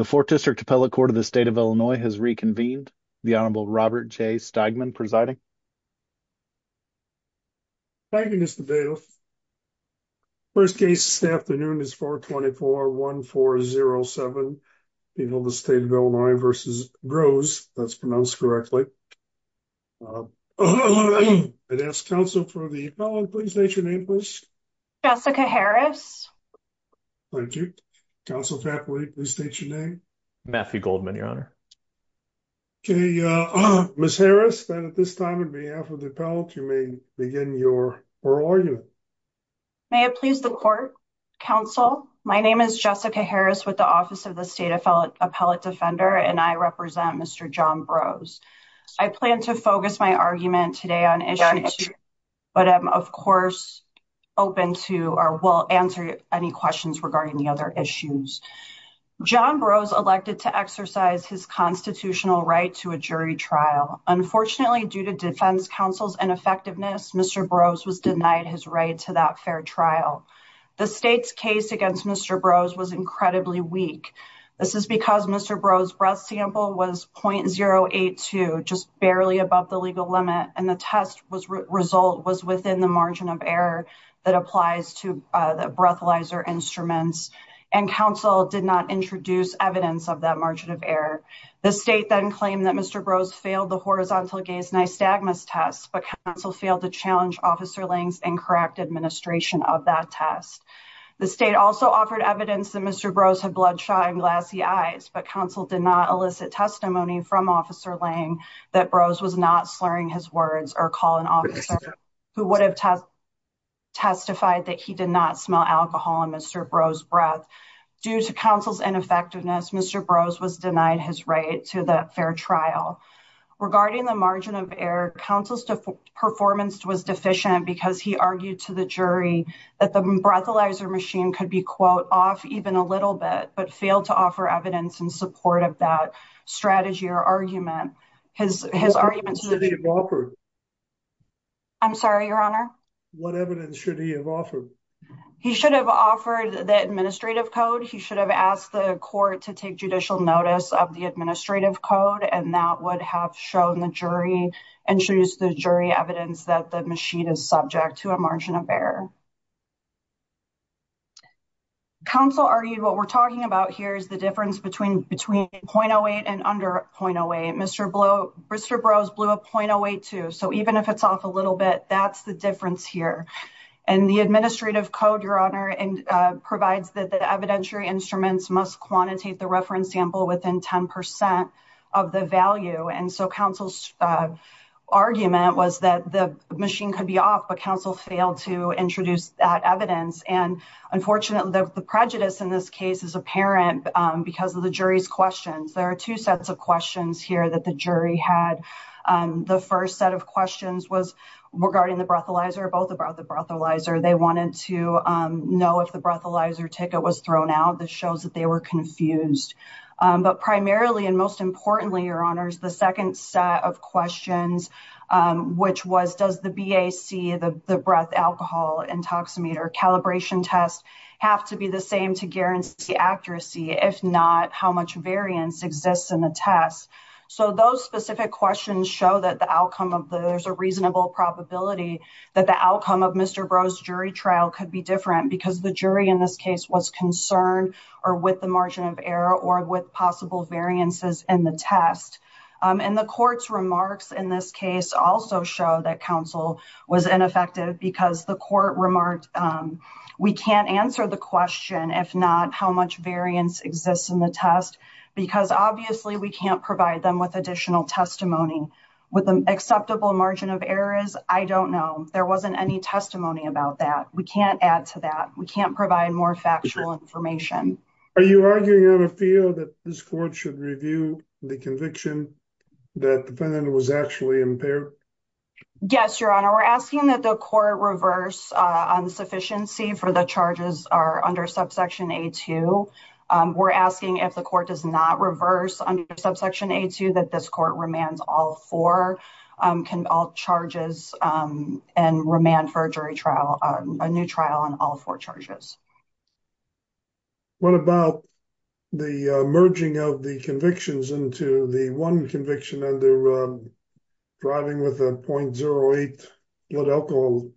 The 4th District Appellate Court of the State of Illinois has reconvened. The Honorable Robert J. Steigman presiding. Thank you, Mr. Bailiff. The first case this afternoon is 424-1407, the state of Illinois v. Brose, if that's pronounced correctly. I'd ask counsel for the appellant, please state your name, please. Jessica Harris. Thank you. Counsel for the appellant, please state your name. Matthew Goldman, Your Honor. Okay, Ms. Harris, then at this time, on behalf of the appellant, you may begin your oral argument. May it please the court, counsel. My name is Jessica Harris with the Office of the State Appellate Defender, and I represent Mr. John Brose. I plan to focus my argument today on issues, but I'm, of course, open to or will answer any questions regarding the other issues. John Brose elected to exercise his constitutional right to a jury trial. Unfortunately, due to defense counsel's ineffectiveness, Mr. Brose was denied his right to that fair trial. The state's case against Mr. Brose was incredibly weak. This is because Mr. Brose's breath sample was .082, just barely above the legal limit, and the test result was within the margin of error that applies to the breathalyzer instruments, and counsel did not introduce evidence of that margin of error. The state then claimed that Mr. Brose failed the horizontal gaze nystagmus test, but counsel failed to challenge Officer Lang's incorrect administration of that test. The state also offered evidence that Mr. Brose had bloodshot and glassy eyes, but counsel did not elicit testimony from Officer Lang that Brose was not slurring his words or calling an officer who would have testified that he did not smell alcohol in Mr. Brose's breath. Due to counsel's ineffectiveness, Mr. Brose was denied his right to that fair trial. Regarding the margin of error, counsel's performance was deficient because he argued to the jury that the breathalyzer machine could be, quote, off even a little bit, but failed to offer evidence in support of that strategy or argument. His argument... I'm sorry, Your Honor? What evidence should he have offered? He should have offered the administrative code. He should have asked the court to take judicial notice of the administrative code, and that would have shown the jury and introduced the jury evidence that the machine is subject to a margin of error. Counsel argued what we're talking about here is the difference between 0.08 and under 0.08. Mr. Brose blew a 0.08, too, so even if it's off a little bit, that's the difference here. And the administrative code, Your Honor, provides that the evidentiary instruments must quantitate the reference sample within 10% of the value, and so counsel's argument was that the machine could be off, but counsel failed to introduce that evidence, and unfortunately, the prejudice in this case is apparent because of the jury's questions. There are two sets of questions here that the jury had. The first set of questions was regarding the breathalyzer, both about the breathalyzer. They wanted to know if the breathalyzer ticket was thrown out. This shows that they were confused. But primarily and most importantly, Your Honors, the second set of questions, which was does the BAC, the breath alcohol intoximeter calibration test, have to be the same to guarantee accuracy, if not, how much variance exists in the test? So those specific questions show that there's a reasonable probability that the outcome of Mr. Brose's jury trial could be different because the jury in this case was concerned or with the margin of error or with possible variances in the test. And the court's remarks in this case also show that counsel was ineffective because the court remarked, we can't answer the question, if not, how much variance exists in the test, because obviously we can't provide them with additional testimony. With an acceptable margin of errors, I don't know. There wasn't any testimony about that. We can't add to that. We can't provide more factual information. Are you arguing on a field that this court should review the conviction that the defendant was actually impaired? Yes, Your Honor. We're asking that the court reverse on the sufficiency for the charges are under subsection A2. We're asking if the court does not reverse under subsection A2 that this court remands all four charges and remand for a jury trial, a new trial on all four charges. What about the merging of the convictions into the one conviction under driving with a .08 lit alcohol?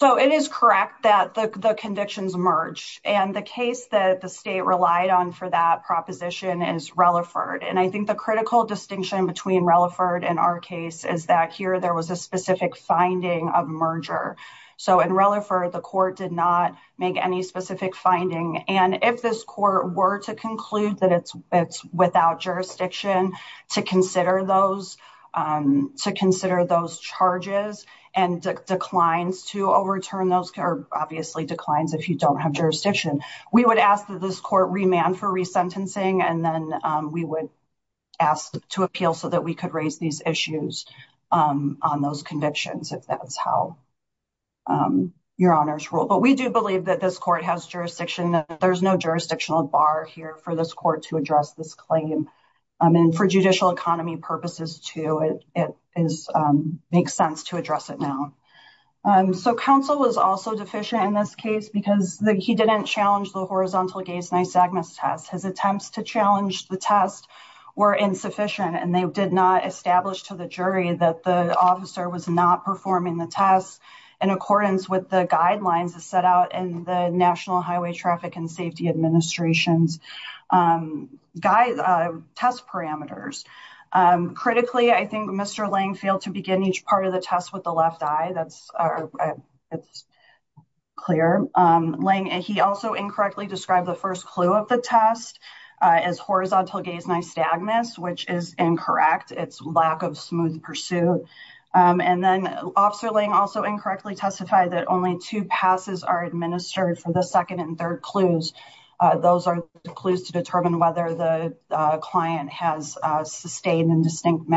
So it is correct that the convictions merge. And the case that the state relied on for that proposition is Relaford. And I think the critical distinction between Relaford and our case is that here there was a specific finding of merger. So in Relaford, the court did not make any specific finding. And if this court were to conclude that it's without jurisdiction to consider those charges and declines to overturn those, or obviously declines if you don't have jurisdiction, we would ask that this court remand for resentencing. And then we would ask to appeal so that we could raise these issues on those convictions if that's how your honors rule. But we do believe that this court has jurisdiction. There's no jurisdictional bar here for this court to address this claim. And for judicial economy purposes too, it makes sense to address it now. So counsel was also deficient in this case because he didn't challenge the horizontal gaze nystagmus test. His attempts to challenge the test were insufficient and they did not establish to the jury that the officer was not performing the test in accordance with the guidelines that's set out in the National Highway Traffic and Safety Administration's test parameters. Critically, I think Mr. Lang failed to begin each part of the test with the left eye. That's clear. Lang, he also incorrectly described the first clue of the test as horizontal gaze nystagmus, which is incorrect. It's lack of smooth pursuit. And then Officer Lang also incorrectly testified that only two passes are administered for the second and third clues. Those are the clues to determine whether the client has sustained and distinct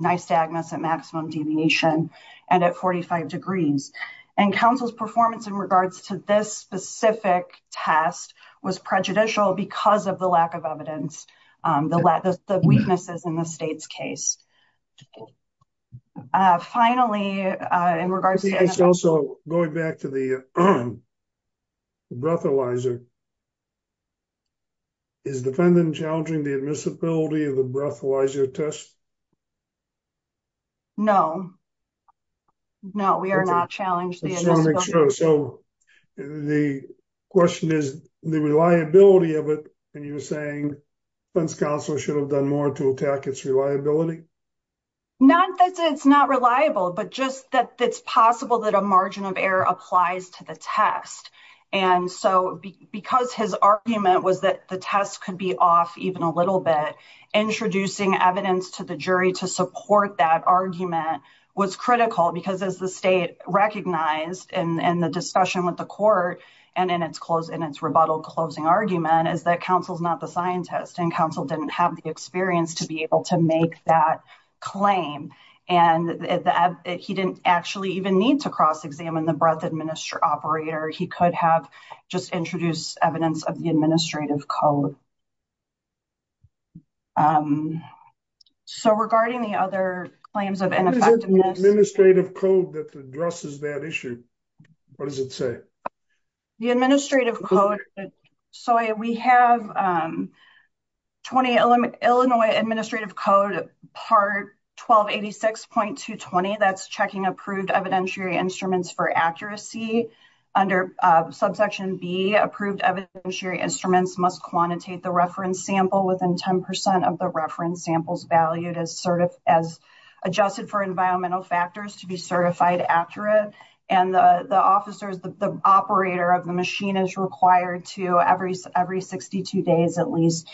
nystagmus at maximum deviation and at 45 degrees. And counsel's performance in regards to this specific test was prejudicial because of the lack of evidence, the weaknesses in the state's case. Finally, in regards to... I think it's also going back to the breathalyzer. Is the defendant challenging the admissibility of the breathalyzer test? No. No, we are not challenged the admissibility. So the question is the reliability of it. And you're saying the defense counsel should have done more to attack its reliability? Not that it's not reliable, but just that it's possible that a margin of error applies to the test. And so because his argument was that the test could be off even a little bit, introducing evidence to the jury to support that argument was critical because as the state recognized in the discussion with the court and in its rebuttal closing argument is that counsel's not the scientist and counsel didn't have the experience to be able to make that claim. And he didn't actually even need to cross-examine the breath administrator operator. He could have just introduced evidence of the administrative code. So regarding the other claims of ineffectiveness... The administrative code that addresses that issue, what does it say? The administrative code. So we have 20 Illinois administrative code part 1286.220. That's checking approved evidentiary instruments for accuracy under subsection B. Approved evidentiary instruments must quantitate the reference sample within 10% of the reference samples valued as adjusted for environmental factors to be certified accurate. And the operator of the machine is required to, every 62 days at least,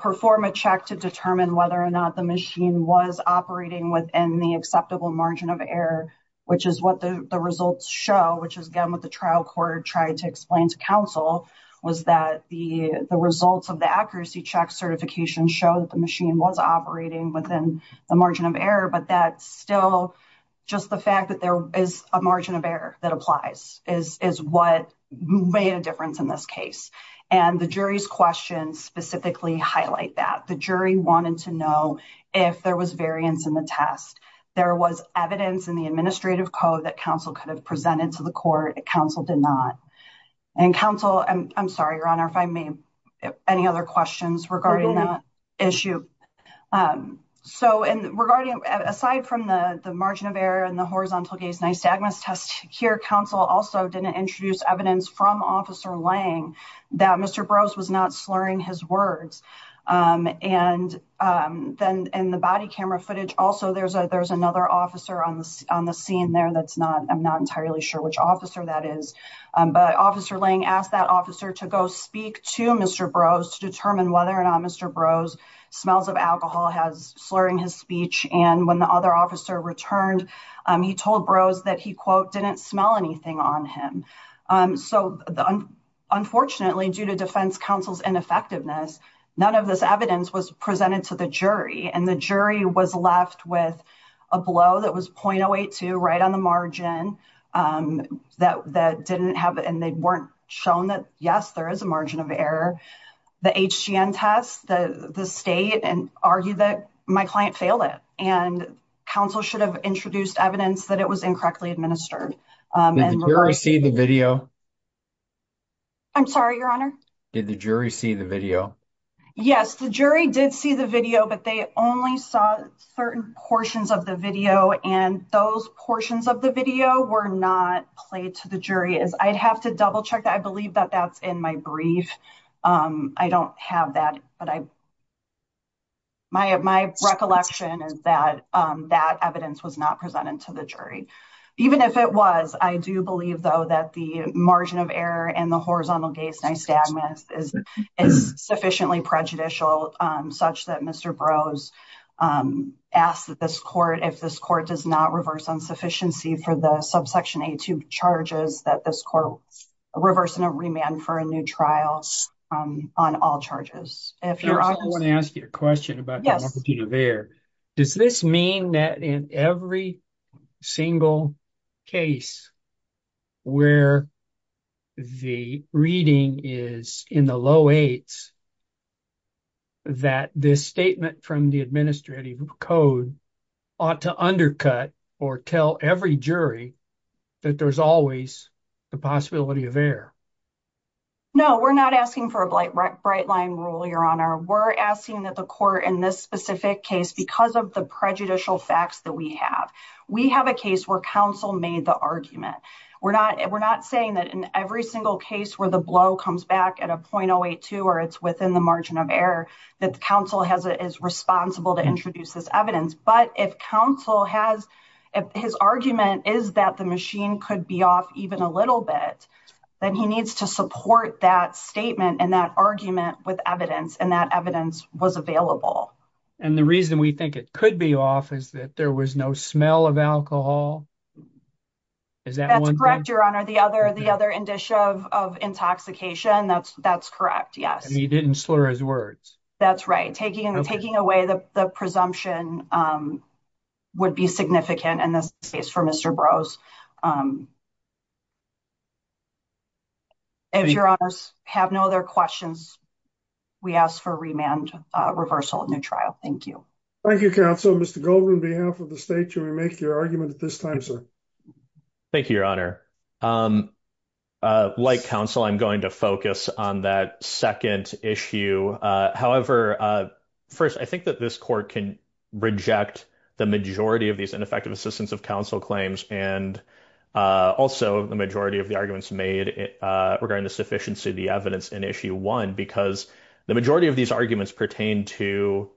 perform a check to determine whether or not the machine was operating within the acceptable margin of error, which is what the results show, which is again what the trial court tried to explain to counsel was that the results of the accuracy check certification show that the machine was operating within the margin of error. But that's still just the fact that there is a margin of error that applies is what made a difference in this case. And the jury's questions specifically highlight that. The jury wanted to know if there was variance in the test. There was evidence in the administrative code that counsel could have presented to the court. Counsel did not. And counsel, I'm sorry, Your Honor, if I may, any other questions regarding that issue? Um, so, and regarding aside from the margin of error and the horizontal gaze nystagmus test here, counsel also didn't introduce evidence from Officer Lang that Mr. Brose was not slurring his words. And then in the body camera footage, also, there's a there's another officer on the on the scene there. That's not I'm not entirely sure which officer that is. But Officer Lang asked that officer to go speak to Mr. Brose to determine whether or not Mr. Brose smells of alcohol, has slurring his speech. And when the other officer returned, he told Brose that he, quote, didn't smell anything on him. So unfortunately, due to defense counsel's ineffectiveness, none of this evidence was presented to the jury. And the jury was left with a blow that was .082 right on the margin that that didn't and they weren't shown that. Yes, there is a margin of error. The HGN test, the state and argue that my client failed it and counsel should have introduced evidence that it was incorrectly administered. Did the jury see the video? I'm sorry, Your Honor. Did the jury see the video? Yes, the jury did see the video, but they only saw certain portions of the video. And those portions of the video were not played to the jury as I'd have to double check. I believe that that's in my brief. I don't have that. But my recollection is that that evidence was not presented to the jury, even if it was. I do believe, though, that the margin of error and the horizontal gaze is sufficiently prejudicial such that Mr. Brose asked that this court, if this court does not reverse insufficiency for the subsection 82 charges that this court reverse and remand for a new trial on all charges. If you want to ask you a question about the margin of error, does this mean that in every single case where the reading is in the low eights, that this statement from the administrative code ought to undercut or tell every jury that there's always the possibility of error? No, we're not asking for a bright line rule, Your Honor. We're asking that the court in this specific case, because of the prejudicial facts that we have, we have a case where counsel made the argument. We're not we're not saying that in every single case where the blow comes back at a point or two or it's within the margin of error that the counsel has is responsible to introduce this evidence. But if counsel has his argument is that the machine could be off even a little bit, then he needs to support that statement and that argument with evidence and that evidence was available. And the reason we think it could be off is that there was no smell of alcohol. Is that correct, Your Honor? The other the other indicia of intoxication. That's that's correct. Yes, he didn't slur his words. That's right. Taking and taking away the presumption would be significant in this case for Mr. Brose. If you have no other questions, we ask for remand reversal of new trial. Thank you. Thank you, counsel. Mr. Goldman, behalf of the state to make your argument at this time, sir. Thank you, Your Honor. Like counsel, I'm going to focus on that second issue. However, first, I think that this court can reject the majority of these ineffective assistance of counsel claims and also the majority of the arguments made regarding the sufficiency of the evidence in issue one, because the majority of these arguments pertain to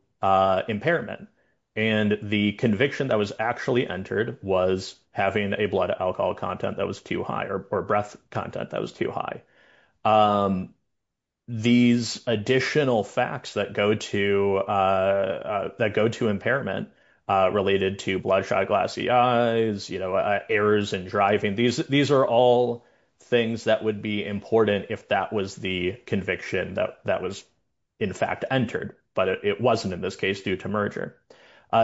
impairment and the conviction that was actually entered was having a blood alcohol content that was too high or breath content that was too high. These additional facts that go to that go to impairment related to bloodshot, glassy eyes, you know, errors and driving, these these are all things that would be important if that was the conviction that that was, in fact, entered. But it wasn't in this case due to merger.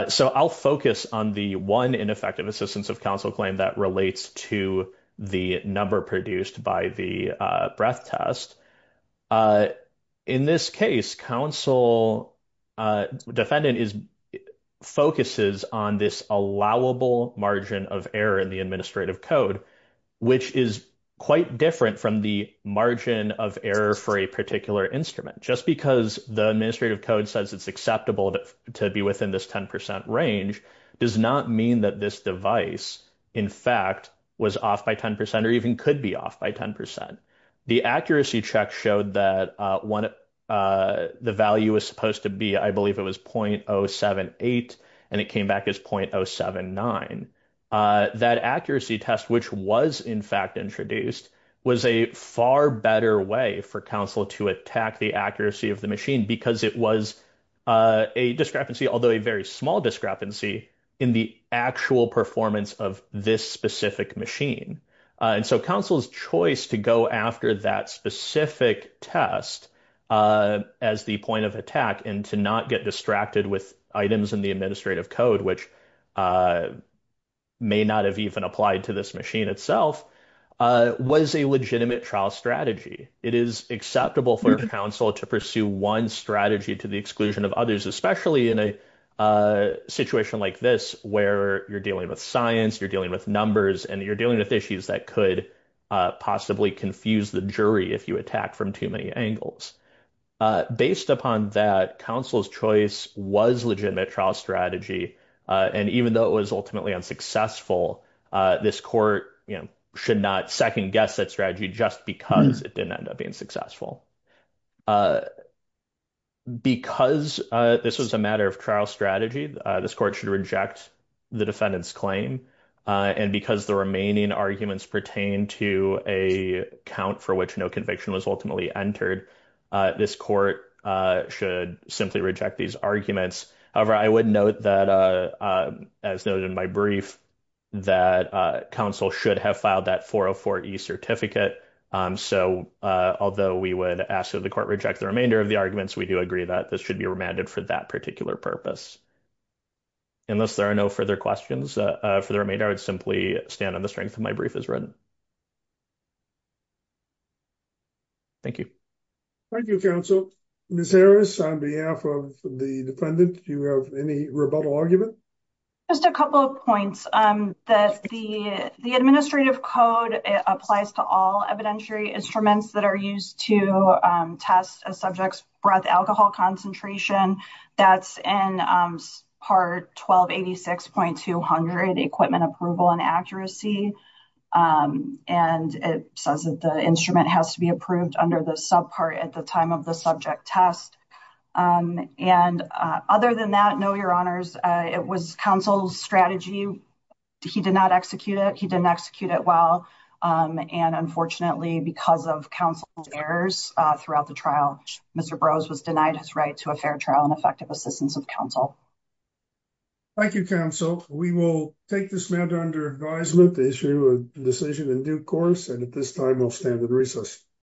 So I'll focus on the one ineffective assistance of counsel claim that relates to the number produced by the breath test. In this case, counsel defendant is focuses on this allowable margin of error in the administrative code, which is quite different from the margin of error for a particular instrument. Just because the administrative code says it's acceptable to be within this 10% range does not mean that this device, in fact, was off by 10% or even could be off by 10%. The accuracy check showed that when the value was supposed to be, I believe it was .078 and it came back as .079. That accuracy test, which was, in fact, introduced was a far better way for counsel to attack the accuracy of the machine because it was a discrepancy, although a very small discrepancy in the actual performance of this specific machine. And so counsel's choice to go after that specific test as the point of attack and to not get distracted with items in the administrative code, which may not have even applied to this machine itself, was a legitimate trial strategy. It is acceptable for counsel to pursue one strategy to the exclusion of others, especially in a situation like this, where you're dealing with science, you're dealing with numbers, and you're dealing with issues that could possibly confuse the jury if you attack from too many angles. Based upon that, counsel's choice was legitimate trial strategy. And even though it was ultimately unsuccessful, this court should not second guess that strategy just because it didn't end up being successful. Because this was a matter of trial strategy, this court should reject the defendant's claim. And because the remaining arguments pertain to a count for which no conviction was ultimately entered, this court should simply reject these arguments. However, I would note that, as noted in my brief, that counsel should have filed that 404E certificate. So, although we would ask that the court reject the remainder of the arguments, we do agree that this should be remanded for that particular purpose. Unless there are no further questions for the remainder, I would simply stand on the strength of my brief as written. Thank you. Thank you, counsel. Ms. Harris, on behalf of the defendant, do you have any rebuttal argument? Just a couple of points. The administrative code applies to all evidentiary instruments that are used to test a subject's breath alcohol concentration. That's in Part 1286.200, Equipment Approval and Accuracy. And it says that the instrument has to be approved under the subpart at the time of the subject test. And other than that, no, your honors, it was counsel's strategy. He did not execute it. He didn't execute it well. And unfortunately, because of counsel's errors throughout the trial, Mr. Brose was denied his right to a fair trial and effective assistance of counsel. Thank you, counsel. We will take this matter under advisement to issue a decision in due course. And at this time, I'll stand at recess.